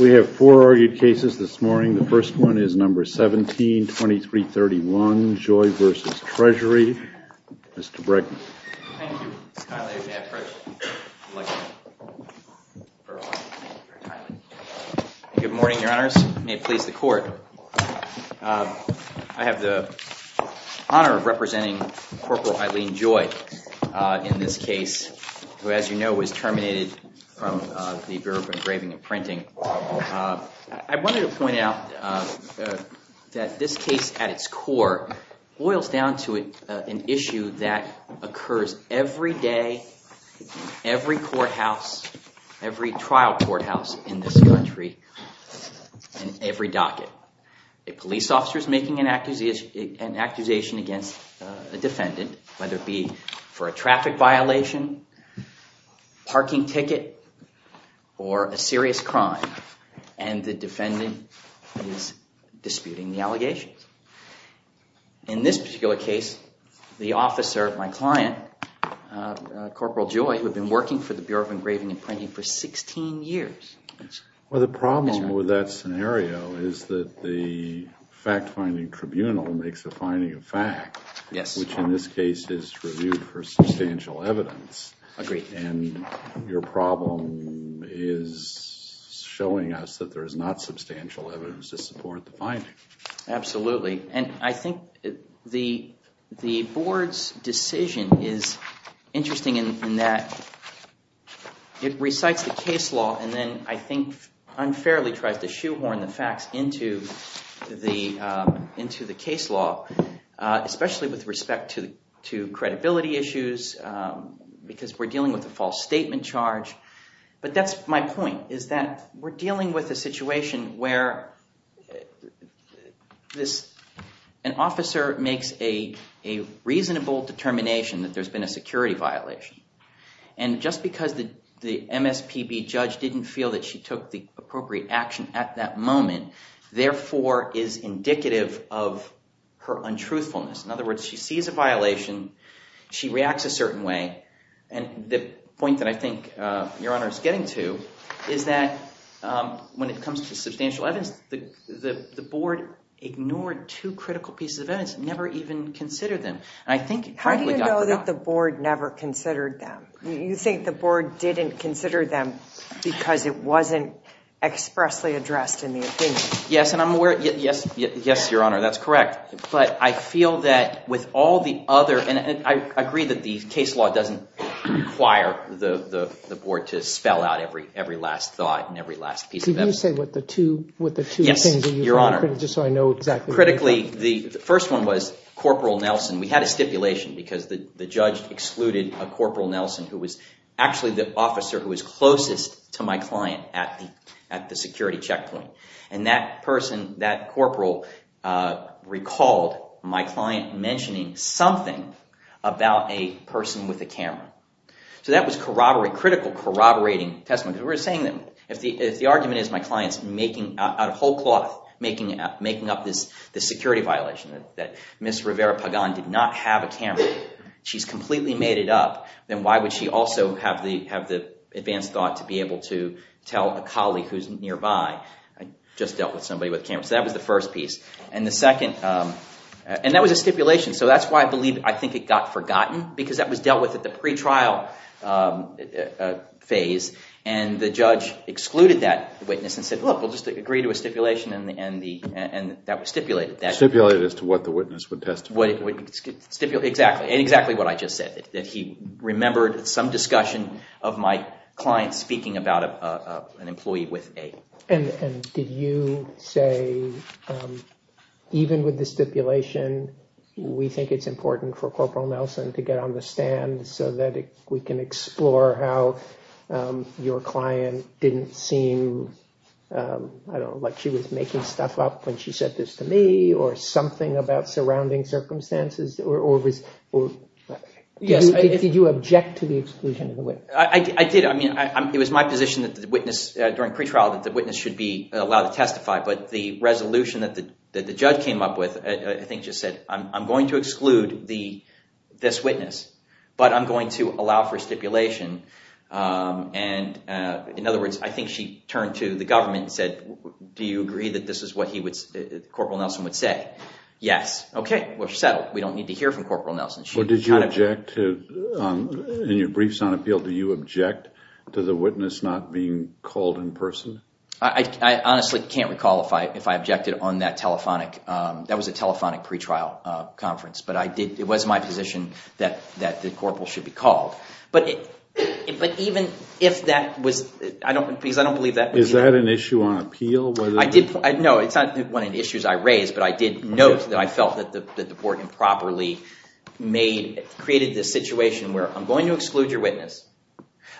We have four argued cases this morning. The first one is number 17, 2331, Joy v. Treasury. Mr. Bregman. Thank you, Mr. Connolly. It's my pleasure. I'd like to start off. Good morning, Your Honors. May it please the Court. I have the honor of representing Corporal Eileen Joy in this case, who, as you know, was terminated from the Bureau of Engraving and Printing. I wanted to point out that this case, at its core, boils down to an issue that occurs every day in every courthouse, every trial courthouse in this country, in every docket. A police officer is making an accusation against a defendant, whether it be for a traffic violation, parking ticket, or a serious crime, and the defendant is disputing the allegations. In this particular case, the officer, my client, Corporal Joy, who had been working for the Bureau of Engraving and Printing for 16 years. Well, the problem with that scenario is that the fact-finding tribunal makes a finding of fact. Yes. Which in this case is reviewed for substantial evidence. Agreed. And your problem is showing us that there is not substantial evidence to support the finding. Absolutely, and I think the board's decision is interesting in that it recites the case law and then, I think, unfairly tries to shoehorn the facts into the case law, especially with respect to credibility issues because we're dealing with a false statement charge. But that's my point, is that we're dealing with a situation where an officer makes a reasonable determination that there's been a security violation, and just because the MSPB judge didn't feel that she took the appropriate action at that moment, therefore is indicative of her untruthfulness. In other words, she sees a violation, she reacts a certain way, and the point that I think your Honor is getting to is that when it comes to substantial evidence, the board ignored two critical pieces of evidence and never even considered them. How do you know that the board never considered them? You think the board didn't consider them because it wasn't expressly addressed in the opinion? Yes, and I'm aware – yes, Your Honor, that's correct. But I feel that with all the other – and I agree that the case law doesn't require the board to spell out every last thought and every last piece of evidence. Could you say what the two things that you felt were critical just so I know exactly what they were? And that person, that corporal recalled my client mentioning something about a person with a camera. So that was corroborating – critical corroborating testimony. If the argument is my client's, out of whole cloth, making up this security violation that Ms. Rivera-Pagan did not have a camera, she's completely made it up, then why would she also have the advanced thought to be able to tell a colleague who's nearby, I just dealt with somebody with a camera. So that was the first piece. And the second – and that was a stipulation. So that's why I believe – I think it got forgotten because that was dealt with at the pretrial phase, and the judge excluded that witness and said, look, we'll just agree to a stipulation, and that stipulated that. Stipulated as to what the witness would testify. Exactly. And exactly what I just said, that he remembered some discussion of my client speaking about an employee with a – And did you say, even with the stipulation, we think it's important for Corporal Nelson to get on the stand so that we can explore how your client didn't seem – I don't know, like she was making stuff up when she said this to me or something about surrounding circumstances? Or was – did you object to the exclusion of the witness? I did. I mean, it was my position that the witness – during pretrial that the witness should be allowed to testify, but the resolution that the judge came up with I think just said, I'm going to exclude this witness, but I'm going to allow for stipulation. And in other words, I think she turned to the government and said, do you agree that this is what he would – Corporal Nelson would say? Yes. Okay. Well, she settled. We don't need to hear from Corporal Nelson. Or did you object to – in your briefs on appeal, do you object to the witness not being called in person? I honestly can't recall if I objected on that telephonic – that was a telephonic pretrial conference, but I did – it was my position that the corporal should be called. But even if that was – because I don't believe that was – Is that an issue on appeal? No, it's not one of the issues I raised, but I did note that I felt that the court improperly made – created this situation where I'm going to exclude your witness.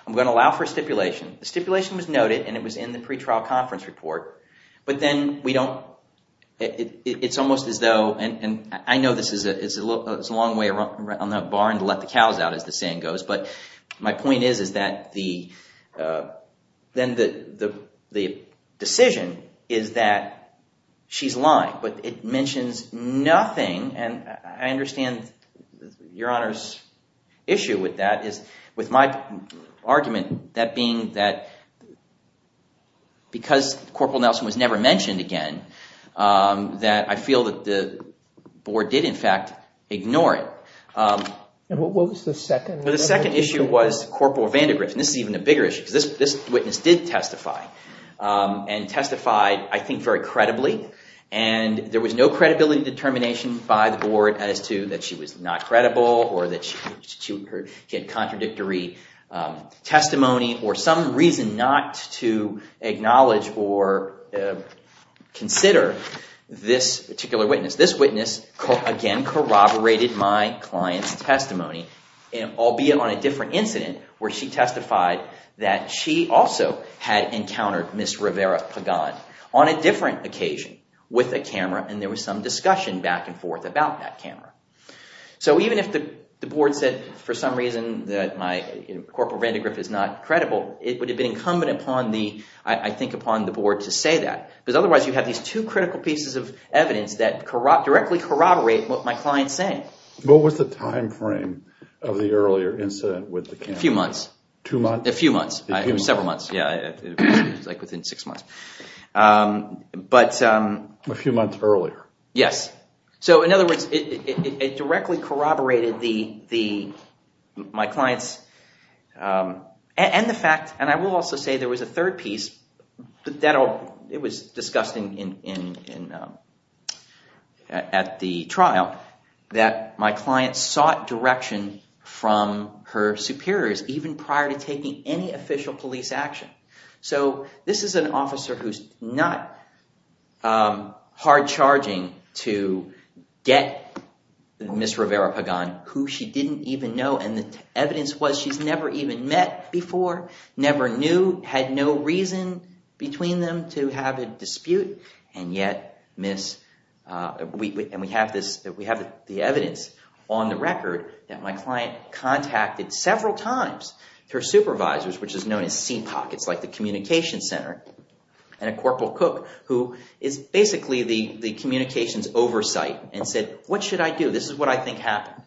I'm going to allow for stipulation. The stipulation was noted, and it was in the pretrial conference report. But then we don't – it's almost as though – and I know this is a long way around the barn to let the cows out, as the saying goes. But my point is, is that the – then the decision is that she's lying, but it mentions nothing. And I understand your honor's issue with that is – with my argument, that being that because Corporal Nelson was never mentioned again, that I feel that the board did in fact ignore it. And what was the second? The second issue was Corporal Vandegrift, and this is even a bigger issue because this witness did testify and testified, I think, very credibly. And there was no credibility determination by the board as to that she was not credible or that she had contradictory testimony or some reason not to acknowledge or consider this particular witness. This witness, again, corroborated my client's testimony, albeit on a different incident where she testified that she also had encountered Ms. Rivera Pagan. On a different occasion with a camera, and there was some discussion back and forth about that camera. So even if the board said for some reason that my – Corporal Vandegrift is not credible, it would have been incumbent upon the – I think upon the board to say that. Because otherwise you have these two critical pieces of evidence that directly corroborate what my client is saying. What was the timeframe of the earlier incident with the camera? A few months. Two months? A few months. It was several months. It was like within six months. But – A few months earlier. Yes. So in other words, it directly corroborated the – my client's – and the fact – and I will also say there was a third piece. It was discussed in – at the trial that my client sought direction from her superiors even prior to taking any official police action. So this is an officer who's not hard-charging to get Ms. Rivera Pagan, who she didn't even know. And the evidence was she's never even met before, never knew, had no reason between them to have a dispute. And yet, Ms. – and we have this – we have the evidence on the record that my client contacted several times her supervisors, which is known as CPOC. It's like the communications center. And a Corporal Cook, who is basically the communications oversight, and said, what should I do? This is what I think happened.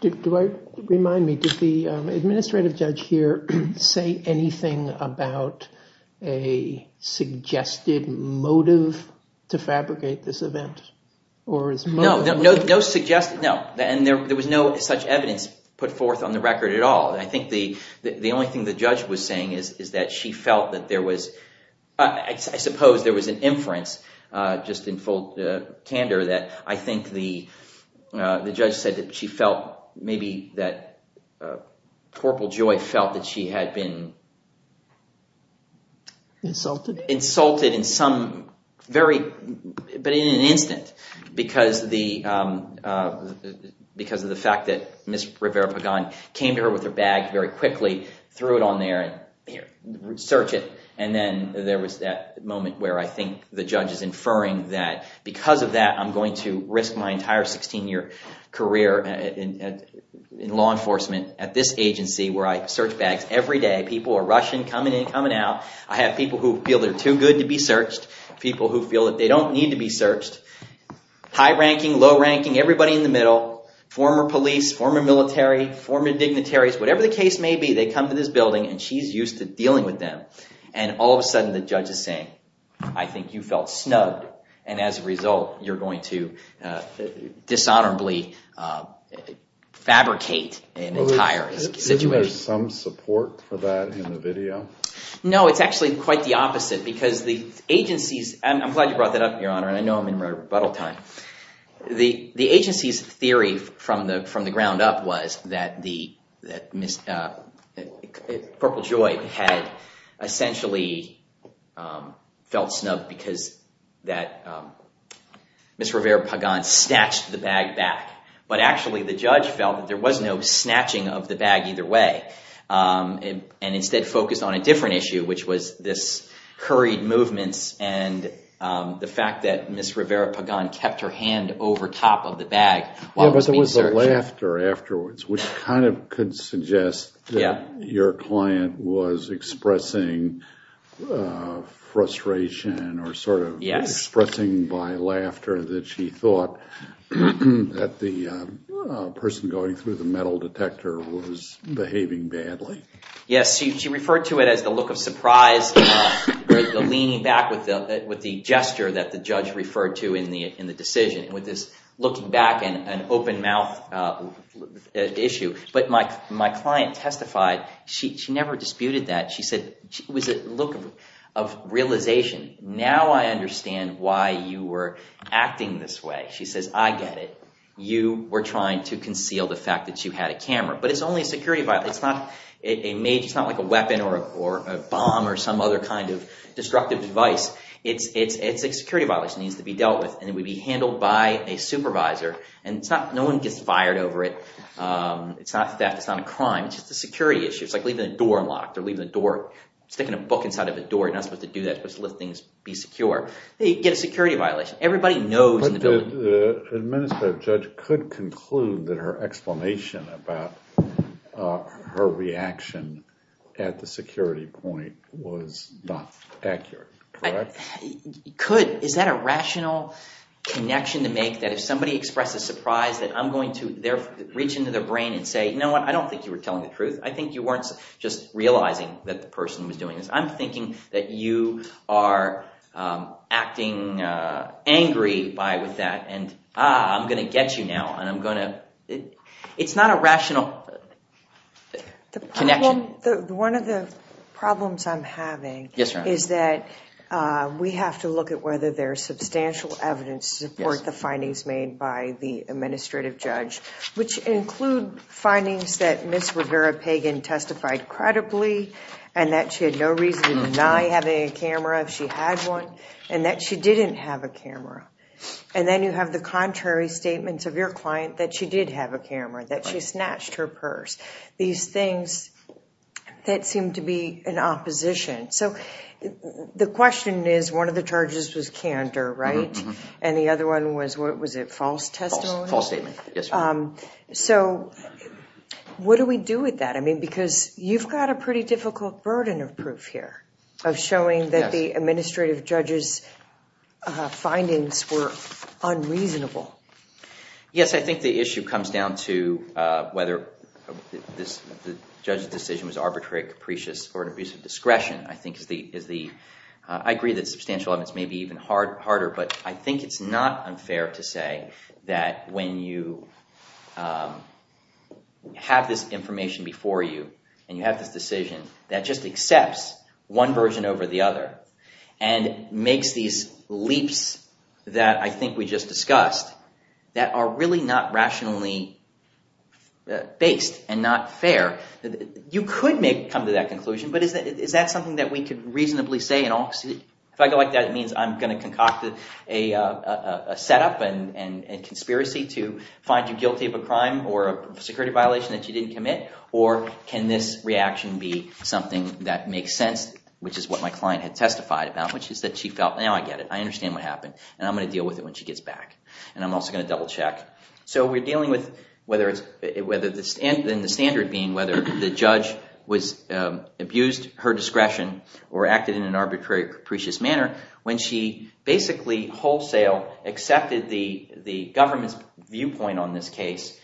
Do I – remind me, did the administrative judge here say anything about a suggested motive to fabricate this event or his motive? No, no suggested – no. And there was no such evidence put forth on the record at all. I think the only thing the judge was saying is that she felt that there was – I suppose there was an inference just in full candor that I think the judge said that she felt maybe that Corporal Joy felt that she had been – Insulted? Insulted in some very – but in an instant because the – because of the fact that Ms. Rivera Pagan came to her with her bag very quickly, threw it on there, and search it. And then there was that moment where I think the judge is inferring that because of that, I'm going to risk my entire 16-year career in law enforcement at this agency where I search bags every day. People are rushing, coming in, coming out. I have people who feel they're too good to be searched, people who feel that they don't need to be searched, high-ranking, low-ranking, everybody in the middle, former police, former military, former dignitaries. Whatever the case may be, they come to this building, and she's used to dealing with them. And all of a sudden the judge is saying, I think you felt snubbed, and as a result, you're going to dishonorably fabricate an entire situation. Isn't there some support for that in the video? No, it's actually quite the opposite because the agency's – I'm glad you brought that up, Your Honor, and I know I'm in rebuttal time. The agency's theory from the ground up was that the – that Ms. – that Purple Joy had essentially felt snubbed because that Ms. Rivera Pagan snatched the bag back. But actually the judge felt that there was no snatching of the bag either way and instead focused on a different issue, which was this hurried movements and the fact that Ms. Rivera Pagan kept her hand over top of the bag while it was being searched. Which kind of could suggest that your client was expressing frustration or sort of expressing by laughter that she thought that the person going through the metal detector was behaving badly. Yes, she referred to it as the look of surprise, the leaning back with the gesture that the judge referred to in the decision. With this looking back and open mouth issue. But my client testified she never disputed that. She said it was a look of realization. Now I understand why you were acting this way. She says, I get it. You were trying to conceal the fact that you had a camera. But it's only a security violation. It's not like a weapon or a bomb or some other kind of destructive device. It's a security violation that needs to be dealt with, and it would be handled by a supervisor. And no one gets fired over it. It's not theft. It's not a crime. It's just a security issue. It's like leaving a door unlocked or leaving a door – sticking a book inside of a door. You're not supposed to do that. You're supposed to let things be secure. They get a security violation. Everybody knows in the building. The administrative judge could conclude that her explanation about her reaction at the security point was not accurate. Correct? Could. Is that a rational connection to make that if somebody expresses surprise that I'm going to reach into their brain and say, you know what, I don't think you were telling the truth. I think you weren't just realizing that the person was doing this. I'm thinking that you are acting angry with that and, ah, I'm going to get you now. And I'm going to – it's not a rational connection. One of the problems I'm having is that we have to look at whether there is substantial evidence to support the findings made by the administrative judge, which include findings that Ms. Rivera-Pagan testified credibly and that she had no reason to deny having a camera if she had one, and that she didn't have a camera. And then you have the contrary statements of your client that she did have a camera, that she snatched her purse, these things that seem to be in opposition. So the question is, one of the charges was candor, right? And the other one was, what was it, false testimony? False testimony, yes. So what do we do with that? I mean, because you've got a pretty difficult burden of proof here of showing that the administrative judge's findings were unreasonable. Yes, I think the issue comes down to whether the judge's decision was arbitrary, capricious, or an abuse of discretion. I agree that substantial evidence may be even harder, but I think it's not unfair to say that when you have this information before you and you have this decision that just accepts one version over the other and makes these leaps that I think we just discussed that are really not rationally based and not fair. You could come to that conclusion, but is that something that we could reasonably say? If I go like that, it means I'm going to concoct a setup and conspiracy to find you guilty of a crime or a security violation that you didn't commit? Or can this reaction be something that makes sense, which is what my client had testified about, which is that she felt, now I get it, I understand what happened, and I'm going to deal with it when she gets back. And I'm also going to double check. So we're dealing with whether the standard being whether the judge abused her discretion or acted in an arbitrary, capricious manner when she basically wholesale accepted the government's viewpoint on this case,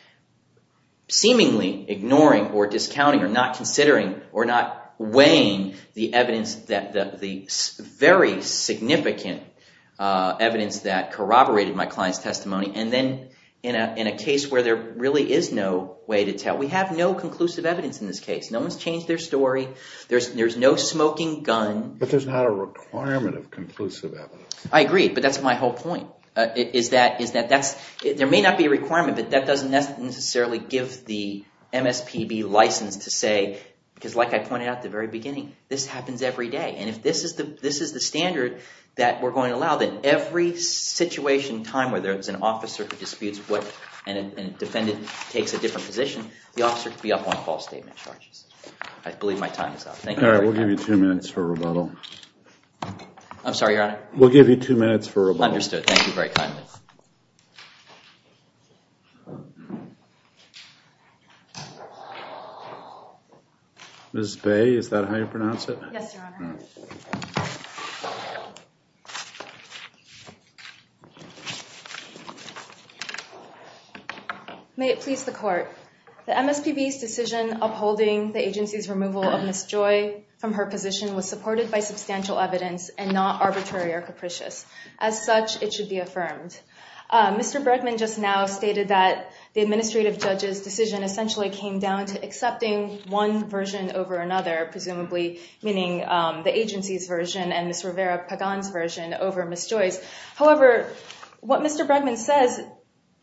seemingly ignoring or discounting or not considering or not weighing the evidence, the very significant evidence that corroborated my client's testimony. And then in a case where there really is no way to tell, we have no conclusive evidence in this case. No one's changed their story. There's no smoking gun. But there's not a requirement of conclusive evidence. I agree, but that's my whole point, is that there may not be a requirement, but that doesn't necessarily give the MSPB license to say, because like I pointed out at the very beginning, this happens every day. And if this is the standard that we're going to allow, then every situation, time, whether it's an officer who disputes what and a defendant takes a different position, the officer could be up on false statement charges. I believe my time is up. Thank you very much. All right, we'll give you two minutes for rebuttal. I'm sorry, Your Honor? We'll give you two minutes for rebuttal. Understood. Thank you very kindly. Ms. Bay, is that how you pronounce it? Yes, Your Honor. May it please the Court. The MSPB's decision upholding the agency's removal of Ms. Joy from her position was supported by substantial evidence and not arbitrary or capricious. As such, it should be affirmed. Mr. Bregman just now stated that the administrative judge's decision essentially came down to accepting one version over another, presumably meaning the agency's version and Ms. Rivera-Pagan's version over Ms. Joy's. However, what Mr. Bregman says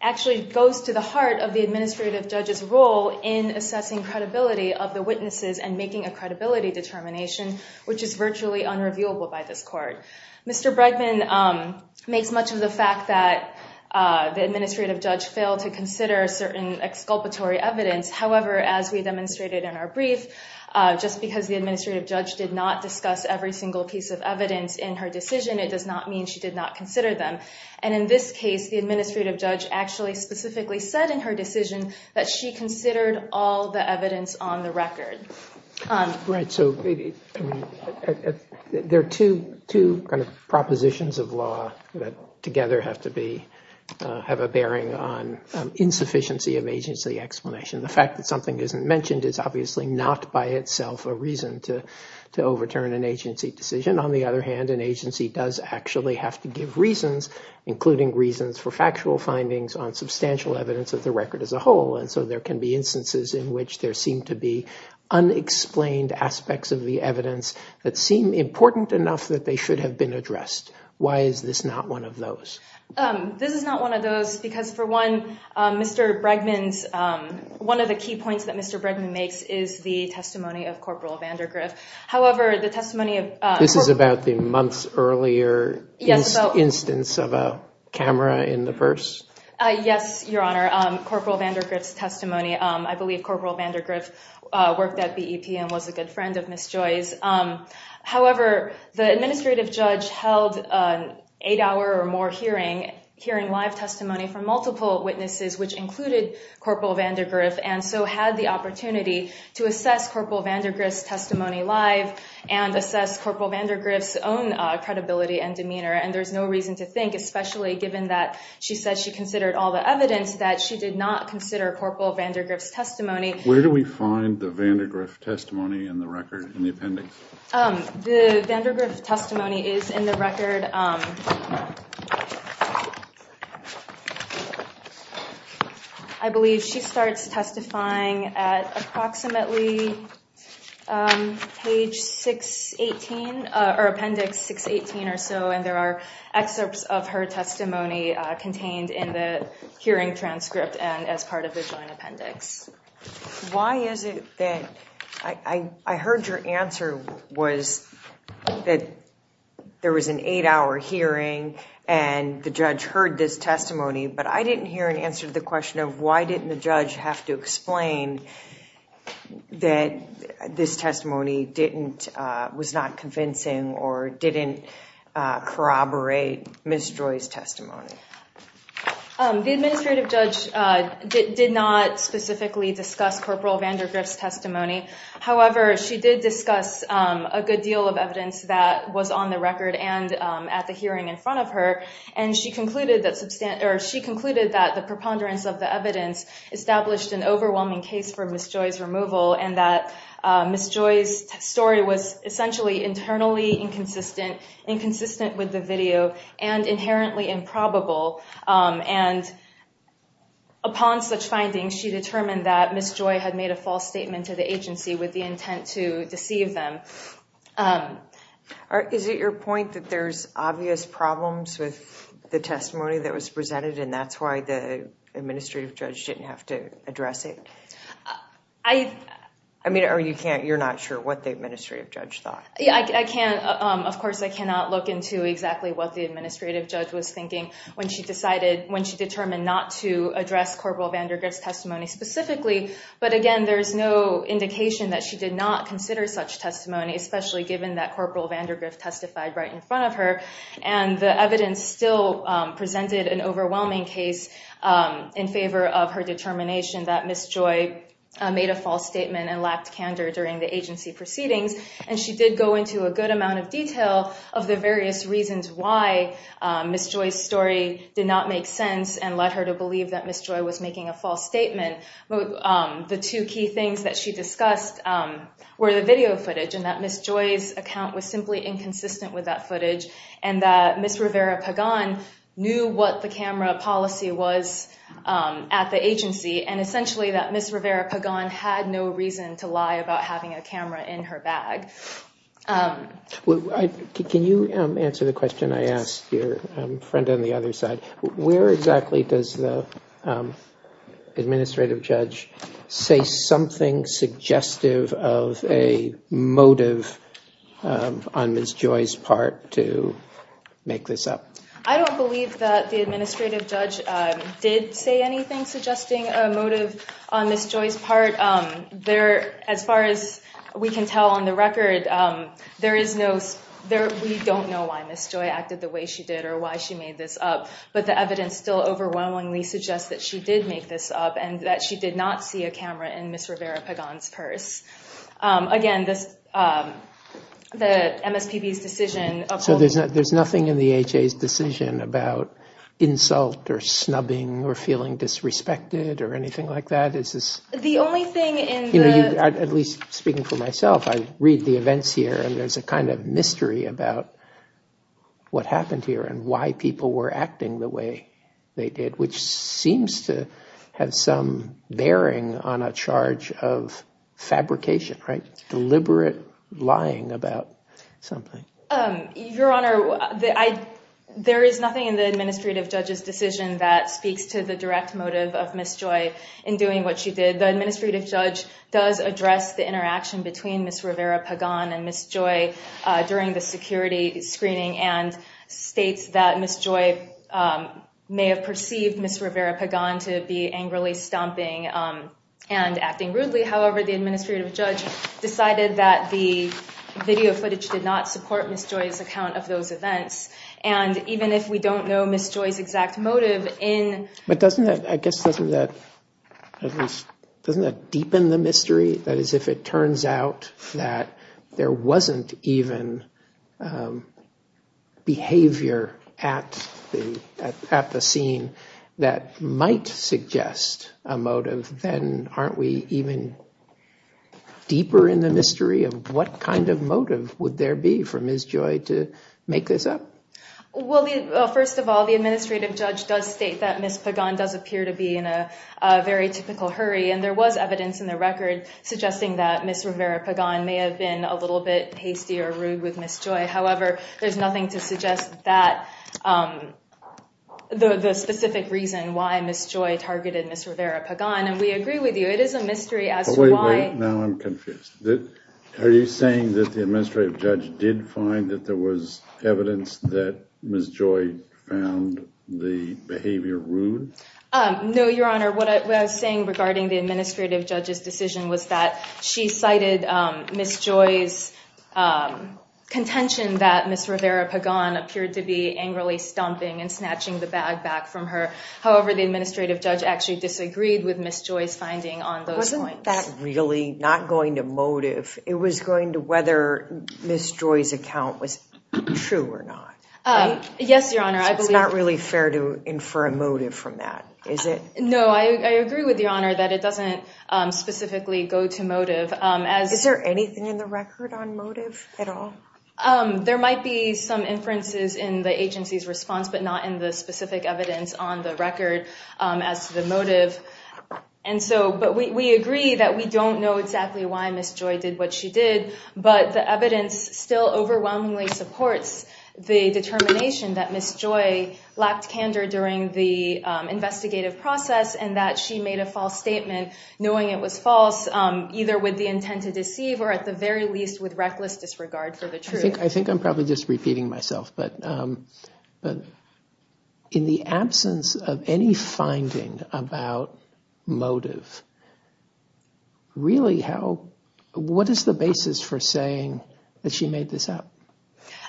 actually goes to the heart of the administrative judge's role in assessing credibility of the witnesses and making a credibility determination, which is virtually unrevealable by this Court. Mr. Bregman makes much of the fact that the administrative judge failed to consider certain exculpatory evidence. However, as we demonstrated in our brief, just because the administrative judge did not discuss every single piece of evidence in her decision, it does not mean she did not consider them. And in this case, the administrative judge actually specifically said in her decision that she considered all the evidence on the record. Right, so there are two kind of propositions of law that together have to be, have a bearing on insufficiency of agency explanation. The fact that something isn't mentioned is obviously not by itself a reason to overturn an agency decision. On the other hand, an agency does actually have to give reasons, including reasons for factual findings on substantial evidence of the record as a whole. And so there can be instances in which there seem to be unexplained aspects of the evidence that seem important enough that they should have been addressed. Why is this not one of those? This is not one of those because, for one, Mr. Bregman's, one of the key points that Mr. Bregman makes is the testimony of Corporal Vandergriff. However, the testimony of- This is about the months earlier instance of a camera in the purse? Yes, Your Honor, Corporal Vandergriff's testimony. I believe Corporal Vandergriff worked at BEP and was a good friend of Ms. Joy's. However, the administrative judge held an eight-hour or more hearing, hearing live testimony from multiple witnesses, which included Corporal Vandergriff, and so had the opportunity to assess Corporal Vandergriff's testimony live and assess Corporal Vandergriff's own credibility and demeanor. And there's no reason to think, especially given that she said she considered all the evidence, that she did not consider Corporal Vandergriff's testimony. Where do we find the Vandergriff testimony in the record, in the appendix? The Vandergriff testimony is in the record. I believe she starts testifying at approximately page 618, or appendix 618 or so, and there are excerpts of her testimony contained in the hearing transcript and as part of the joint appendix. Why is it that- I heard your answer was that there was an eight-hour hearing and the judge heard this testimony, but I didn't hear an answer to the question of, why didn't the judge have to explain that this testimony was not convincing or didn't corroborate Ms. Joy's testimony? The administrative judge did not specifically discuss Corporal Vandergriff's testimony. However, she did discuss a good deal of evidence that was on the record and at the hearing in front of her, and she concluded that the preponderance of the evidence established an overwhelming case for Ms. Joy's removal, and that Ms. Joy's story was essentially internally inconsistent, inconsistent with the video, and inherently improbable. And upon such findings, she determined that Ms. Joy had made a false statement to the agency with the intent to deceive them. Is it your point that there's obvious problems with the testimony that was presented, and that's why the administrative judge didn't have to address it? I mean, or you can't- you're not sure what the administrative judge thought? Yeah, I can't- of course, I cannot look into exactly what the administrative judge was thinking when she decided- when she determined not to address Corporal Vandergriff's testimony specifically, but again, there's no indication that she did not consider such testimony, especially given that Corporal Vandergriff testified right in front of her, and the evidence still presented an overwhelming case in favor of her determination that Ms. Joy made a false statement and lacked candor during the agency proceedings, and she did go into a good amount of detail of the various reasons why Ms. Joy's story did not make sense and led her to believe that Ms. Joy was making a false statement. The two key things that she discussed were the video footage, and that Ms. Joy's account was simply inconsistent with that footage, and that Ms. Rivera-Pagan knew what the camera policy was at the agency, and essentially that Ms. Rivera-Pagan had no reason to lie about having a camera in her bag. Can you answer the question I asked your friend on the other side? Where exactly does the administrative judge say something suggestive of a motive on Ms. Joy's part to make this up? I don't believe that the administrative judge did say anything suggesting a motive on Ms. Joy's part. As far as we can tell on the record, we don't know why Ms. Joy acted the way she did or why she made this up, but the evidence still overwhelmingly suggests that she did make this up and that she did not see a camera in Ms. Rivera-Pagan's purse. So there's nothing in the HA's decision about insult or snubbing or feeling disrespected or anything like that? At least speaking for myself, I read the events here and there's a kind of mystery about what happened here and why people were acting the way they did, which seems to have some bearing on a charge of fabrication, deliberate lying about something. Your Honor, there is nothing in the administrative judge's decision that speaks to the direct motive of Ms. Joy in doing what she did. The administrative judge does address the interaction between Ms. Rivera-Pagan and Ms. Joy during the security screening and states that Ms. Joy may have perceived Ms. Rivera-Pagan to be angrily stomping and acting rudely. However, the administrative judge decided that the video footage did not support Ms. Joy's account of those events. And even if we don't know Ms. Joy's exact motive in... But doesn't that, I guess, doesn't that at least, doesn't that deepen the mystery? That is, if it turns out that there wasn't even behavior at the scene that might suggest a motive, then aren't we even deeper in the mystery of what kind of motive would there be for Ms. Joy to make this up? Well, first of all, the administrative judge does state that Ms. Pagan does appear to be in a very typical hurry. And there was evidence in the record suggesting that Ms. Rivera-Pagan may have been a little bit hasty or rude with Ms. Joy. However, there's nothing to suggest that the specific reason why Ms. Joy targeted Ms. Rivera-Pagan. And we agree with you, it is a mystery as to why... Now I'm confused. Are you saying that the administrative judge did find that there was evidence that Ms. Joy found the behavior rude? No, Your Honor. What I was saying regarding the administrative judge's decision was that she cited Ms. Joy's contention that Ms. Rivera-Pagan appeared to be angrily stomping and snatching the bag back from her. However, the administrative judge actually disagreed with Ms. Joy's finding on those points. Wasn't that really not going to motive? It was going to whether Ms. Joy's account was true or not. Yes, Your Honor. It's not really fair to infer a motive from that, is it? No, I agree with Your Honor that it doesn't specifically go to motive. Is there anything in the record on motive at all? There might be some inferences in the agency's response, but not in the specific evidence on the record as to the motive. But we agree that we don't know exactly why Ms. Joy did what she did, but the evidence still overwhelmingly supports the determination that Ms. Joy lacked candor during the investigative process and that she made a false statement knowing it was false, either with the intent to deceive or at the very least with reckless disregard for the truth. I think I'm probably just repeating myself, but in the absence of any finding about motive, what is the basis for saying that she made this up?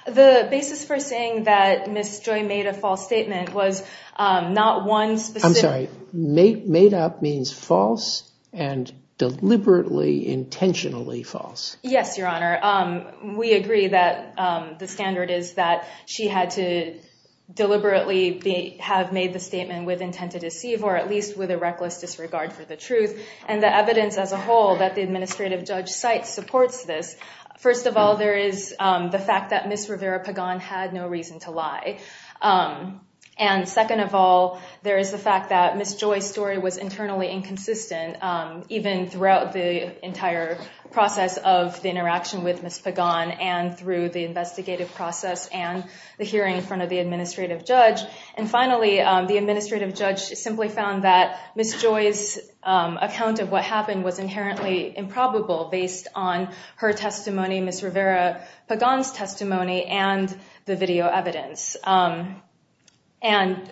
The basis for saying that Ms. Joy made a false statement was not one specific... I'm sorry. Made up means false and deliberately, intentionally false. Yes, Your Honor. We agree that the standard is that she had to deliberately have made the statement with intent to deceive or at least with a reckless disregard for the truth. And the evidence as a whole that the administrative judge cites supports this. First of all, there is the fact that Ms. Rivera Pagan had no reason to lie. And second of all, there is the fact that Ms. Joy's story was internally inconsistent, even throughout the entire process of the interaction with Ms. Pagan and through the investigative process and the hearing in front of the administrative judge. And finally, the administrative judge simply found that Ms. Joy's account of what happened was inherently improbable based on her testimony, Ms. Rivera Pagan's testimony and the video evidence. And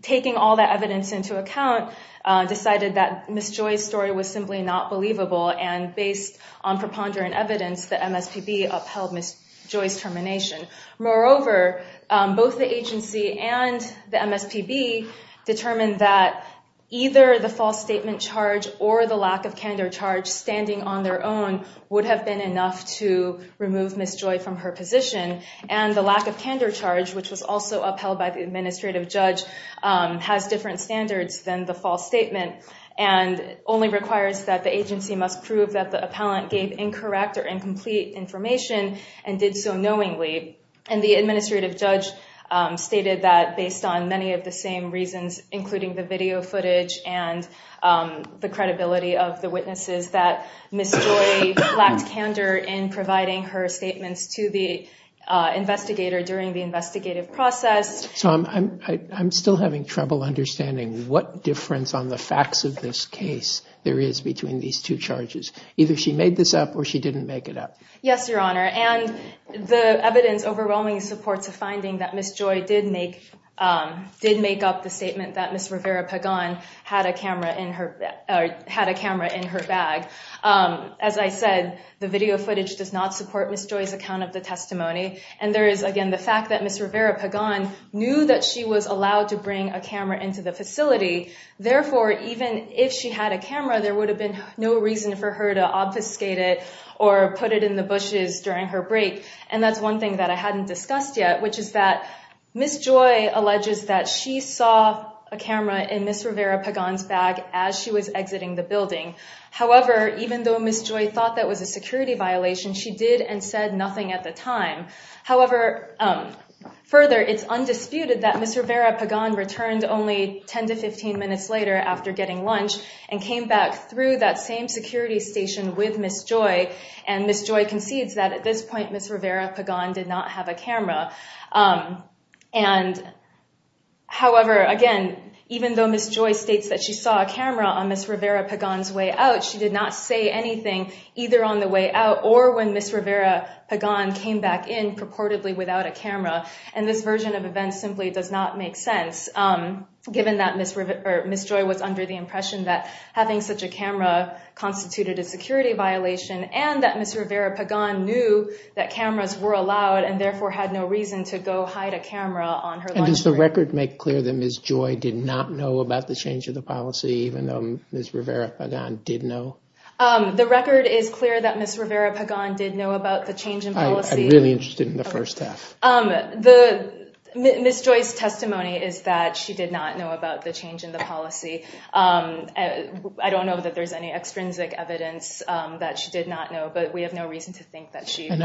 taking all that evidence into account, decided that Ms. Joy's story was simply not believable. And based on preponderant evidence, the MSPB upheld Ms. Joy's termination. Moreover, both the agency and the MSPB determined that either the false statement charge or the lack of candor charge standing on their own would have been enough to remove Ms. Joy from her position. And the lack of candor charge, which was also upheld by the administrative judge, has different standards than the false statement and only requires that the agency must prove that the appellant gave incorrect or incomplete information and did so knowingly. And the administrative judge stated that based on many of the same reasons, including the video footage and the credibility of the witnesses, that Ms. Joy lacked candor in providing her statements to the investigator during the investigative process. So I'm still having trouble understanding what difference on the facts of this case there is between these two charges. Either she made this up or she didn't make it up. Yes, Your Honor. And the evidence overwhelmingly supports a finding that Ms. Joy did make up the statement that Ms. Rivera Pagan had a camera in her bag. As I said, the video footage does not support Ms. Joy's account of the testimony. And there is, again, the fact that Ms. Rivera Pagan knew that she was allowed to bring a camera into the facility. Therefore, even if she had a camera, there would have been no reason for her to obfuscate it or put it in the bushes during her break. And that's one thing that I hadn't discussed yet, which is that Ms. Joy alleges that she saw a camera in Ms. Rivera Pagan's bag as she was exiting the building. However, even though Ms. Joy thought that was a security violation, she did and said nothing at the time. However, further, it's undisputed that Ms. Rivera Pagan returned only 10 to 15 minutes later after getting lunch and came back through that same security station with Ms. Joy. And Ms. Joy concedes that at this point, Ms. Rivera Pagan did not have a camera. And, however, again, even though Ms. Joy states that she saw a camera on Ms. Rivera Pagan's way out, she did not say anything either on the way out or when Ms. Rivera Pagan came back in purportedly without a camera. And this version of events simply does not make sense, given that Ms. Joy was under the impression that having such a camera constituted a security violation and that Ms. Rivera Pagan knew that cameras were allowed and therefore had no reason to go hide a camera on her lunch break. And does the record make clear that Ms. Joy did not know about the change of the policy, even though Ms. Rivera Pagan did know? The record is clear that Ms. Rivera Pagan did know about the change in policy. I'm really interested in the first half. Ms. Joy's testimony is that she did not know about the change in the policy. I don't know that there's any extrinsic evidence that she did not know, but we have no reason to think that she— I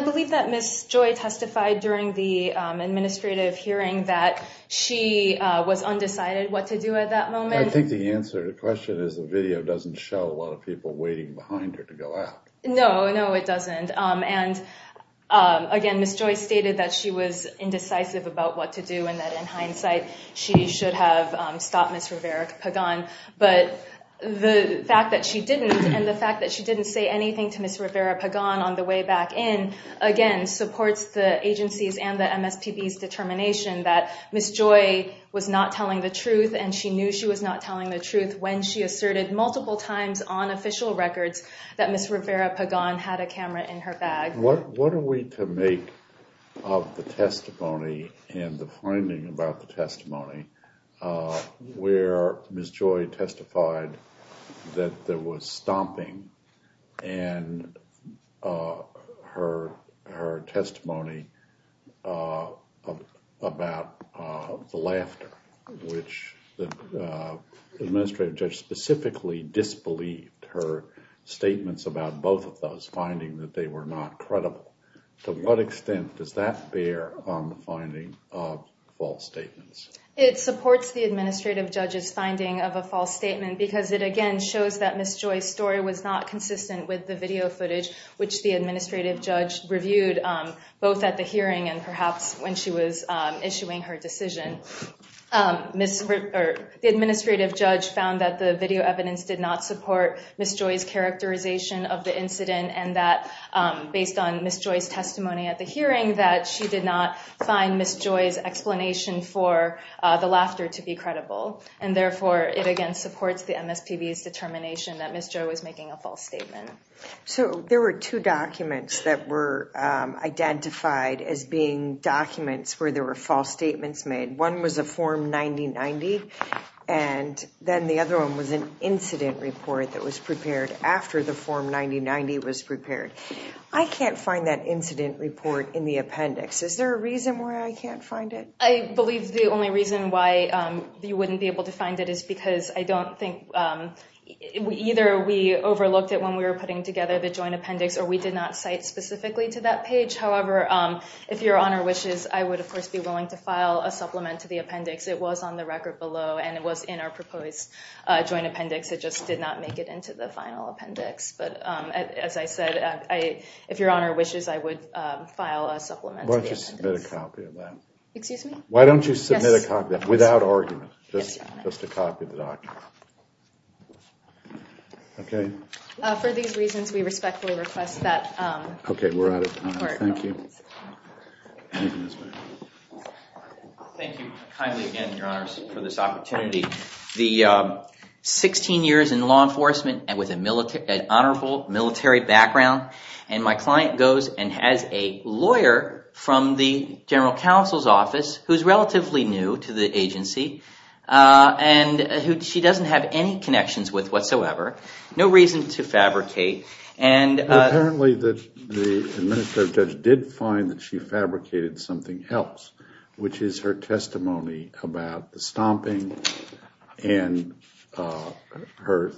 believe that Ms. Joy testified during the administrative hearing that she was undecided what to do at that moment. I think the answer to the question is the video doesn't show a lot of people waiting behind her to go out. No, no, it doesn't. And again, Ms. Joy stated that she was indecisive about what to do and that in hindsight she should have stopped Ms. Rivera Pagan. But the fact that she didn't and the fact that she didn't say anything to Ms. Rivera Pagan on the way back in, again, supports the agency's and the MSPB's determination that Ms. Joy was not telling the truth, and she knew she was not telling the truth when she asserted multiple times on official records that Ms. Rivera Pagan had a camera in her bag. What are we to make of the testimony and the finding about the testimony where Ms. Joy testified that there was stomping and her testimony about the laughter, which the administrative judge specifically disbelieved her statements about both of those, finding that they were not credible? To what extent does that bear on the finding of false statements? It supports the administrative judge's finding of a false statement because it, again, shows that Ms. Joy's story was not consistent with the video footage, which the administrative judge reviewed both at the hearing and perhaps when she was issuing her decision. The administrative judge found that the video evidence did not support Ms. Joy's characterization of the incident and that based on Ms. Joy's testimony at the hearing, that she did not find Ms. Joy's explanation for the laughter to be credible. And therefore, it again supports the MSPB's determination that Ms. Joy was making a false statement. So there were two documents that were identified as being documents where there were false statements made. One was a Form 9090, and then the other one was an incident report that was prepared after the Form 9090 was prepared. I can't find that incident report in the appendix. Is there a reason why I can't find it? I believe the only reason why you wouldn't be able to find it is because I don't think either we overlooked it when we were putting together the joint appendix or we did not cite specifically to that page. However, if Your Honor wishes, I would, of course, be willing to file a supplement to the appendix. It was on the record below, and it was in our proposed joint appendix. It just did not make it into the final appendix. But as I said, if Your Honor wishes, I would file a supplement to the appendix. Why don't you submit a copy of that? Excuse me? Why don't you submit a copy of that without argument, just a copy of the document? Okay. For these reasons, we respectfully request that the report be released. Okay, we're out of time. Thank you. Thank you kindly again, Your Honors, for this opportunity. 16 years in law enforcement and with an honorable military background. And my client goes and has a lawyer from the general counsel's office who's relatively new to the agency and who she doesn't have any connections with whatsoever. No reason to fabricate. Apparently, the administrative judge did find that she fabricated something else, which is her testimony about the stomping and her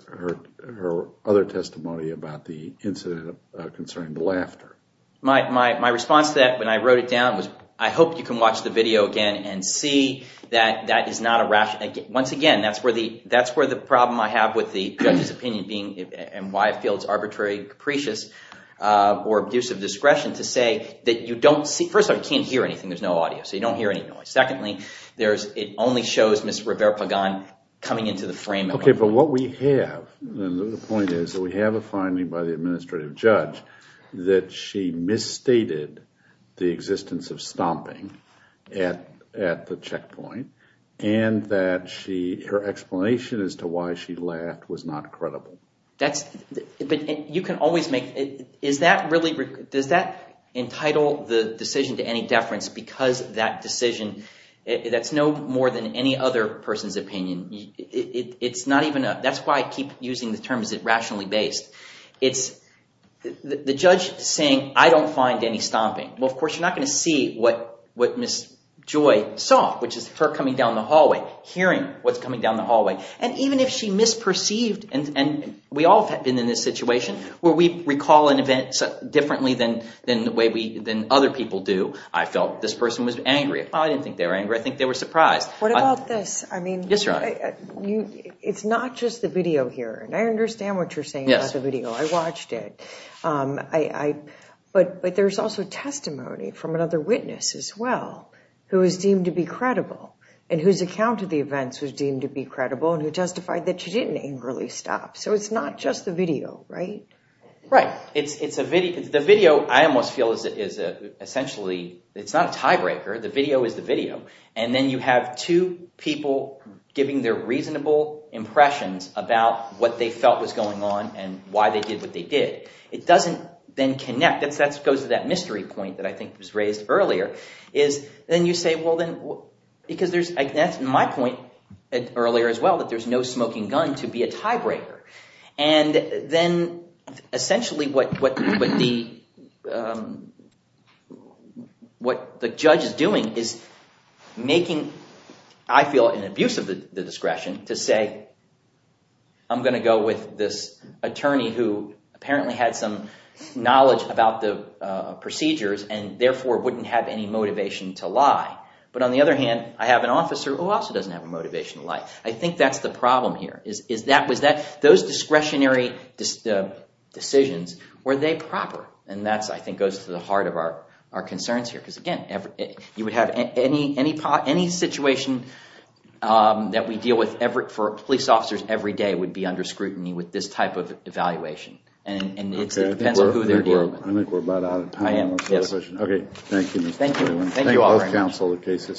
other testimony about the incident concerning the laughter. My response to that when I wrote it down was, I hope you can watch the video again and see that that is not a rationale. Once again, that's where the problem I have with the judge's opinion and why I feel it's arbitrary, capricious, or abuse of discretion to say that you don't see – first of all, you can't hear anything. There's no audio, so you don't hear any noise. Secondly, it only shows Ms. Rivera-Pagan coming into the frame at one point. The point is that we have a finding by the administrative judge that she misstated the existence of stomping at the checkpoint and that her explanation as to why she laughed was not credible. But you can always make – is that really – does that entitle the decision to any deference because that decision – that's no more than any other person's opinion. It's not even a – that's why I keep using the term is it rationally based. It's the judge saying, I don't find any stomping. Well, of course, you're not going to see what Ms. Joy saw, which is her coming down the hallway, hearing what's coming down the hallway. And even if she misperceived – and we all have been in this situation where we recall an event differently than the way we – than other people do. I felt this person was angry. I didn't think they were angry. I think they were surprised. What about this? I mean – Yes, Your Honor. It's not just the video here, and I understand what you're saying about the video. I watched it. But there's also testimony from another witness as well who is deemed to be credible and whose account of the events was deemed to be credible and who justified that she didn't angrily stop. So it's not just the video, right? Right. It's a video. The video, I almost feel, is essentially – it's not a tiebreaker. The video is the video. And then you have two people giving their reasonable impressions about what they felt was going on and why they did what they did. It doesn't then connect. That goes to that mystery point that I think was raised earlier is then you say, well, then – because there's – that's my point earlier as well, that there's no smoking gun to be a tiebreaker. And then essentially what the judge is doing is making – I feel an abuse of the discretion to say I'm going to go with this attorney who apparently had some knowledge about the procedures and therefore wouldn't have any motivation to lie. But on the other hand, I have an officer who also doesn't have a motivation to lie. I think that's the problem here. Is that – was that – those discretionary decisions, were they proper? And that, I think, goes to the heart of our concerns here because, again, you would have – any situation that we deal with for police officers every day would be under scrutiny with this type of evaluation. And it depends on who they're dealing with. I think we're about out of time. I am. Yes. Okay. Thank you. Thank you all very much. Thank you.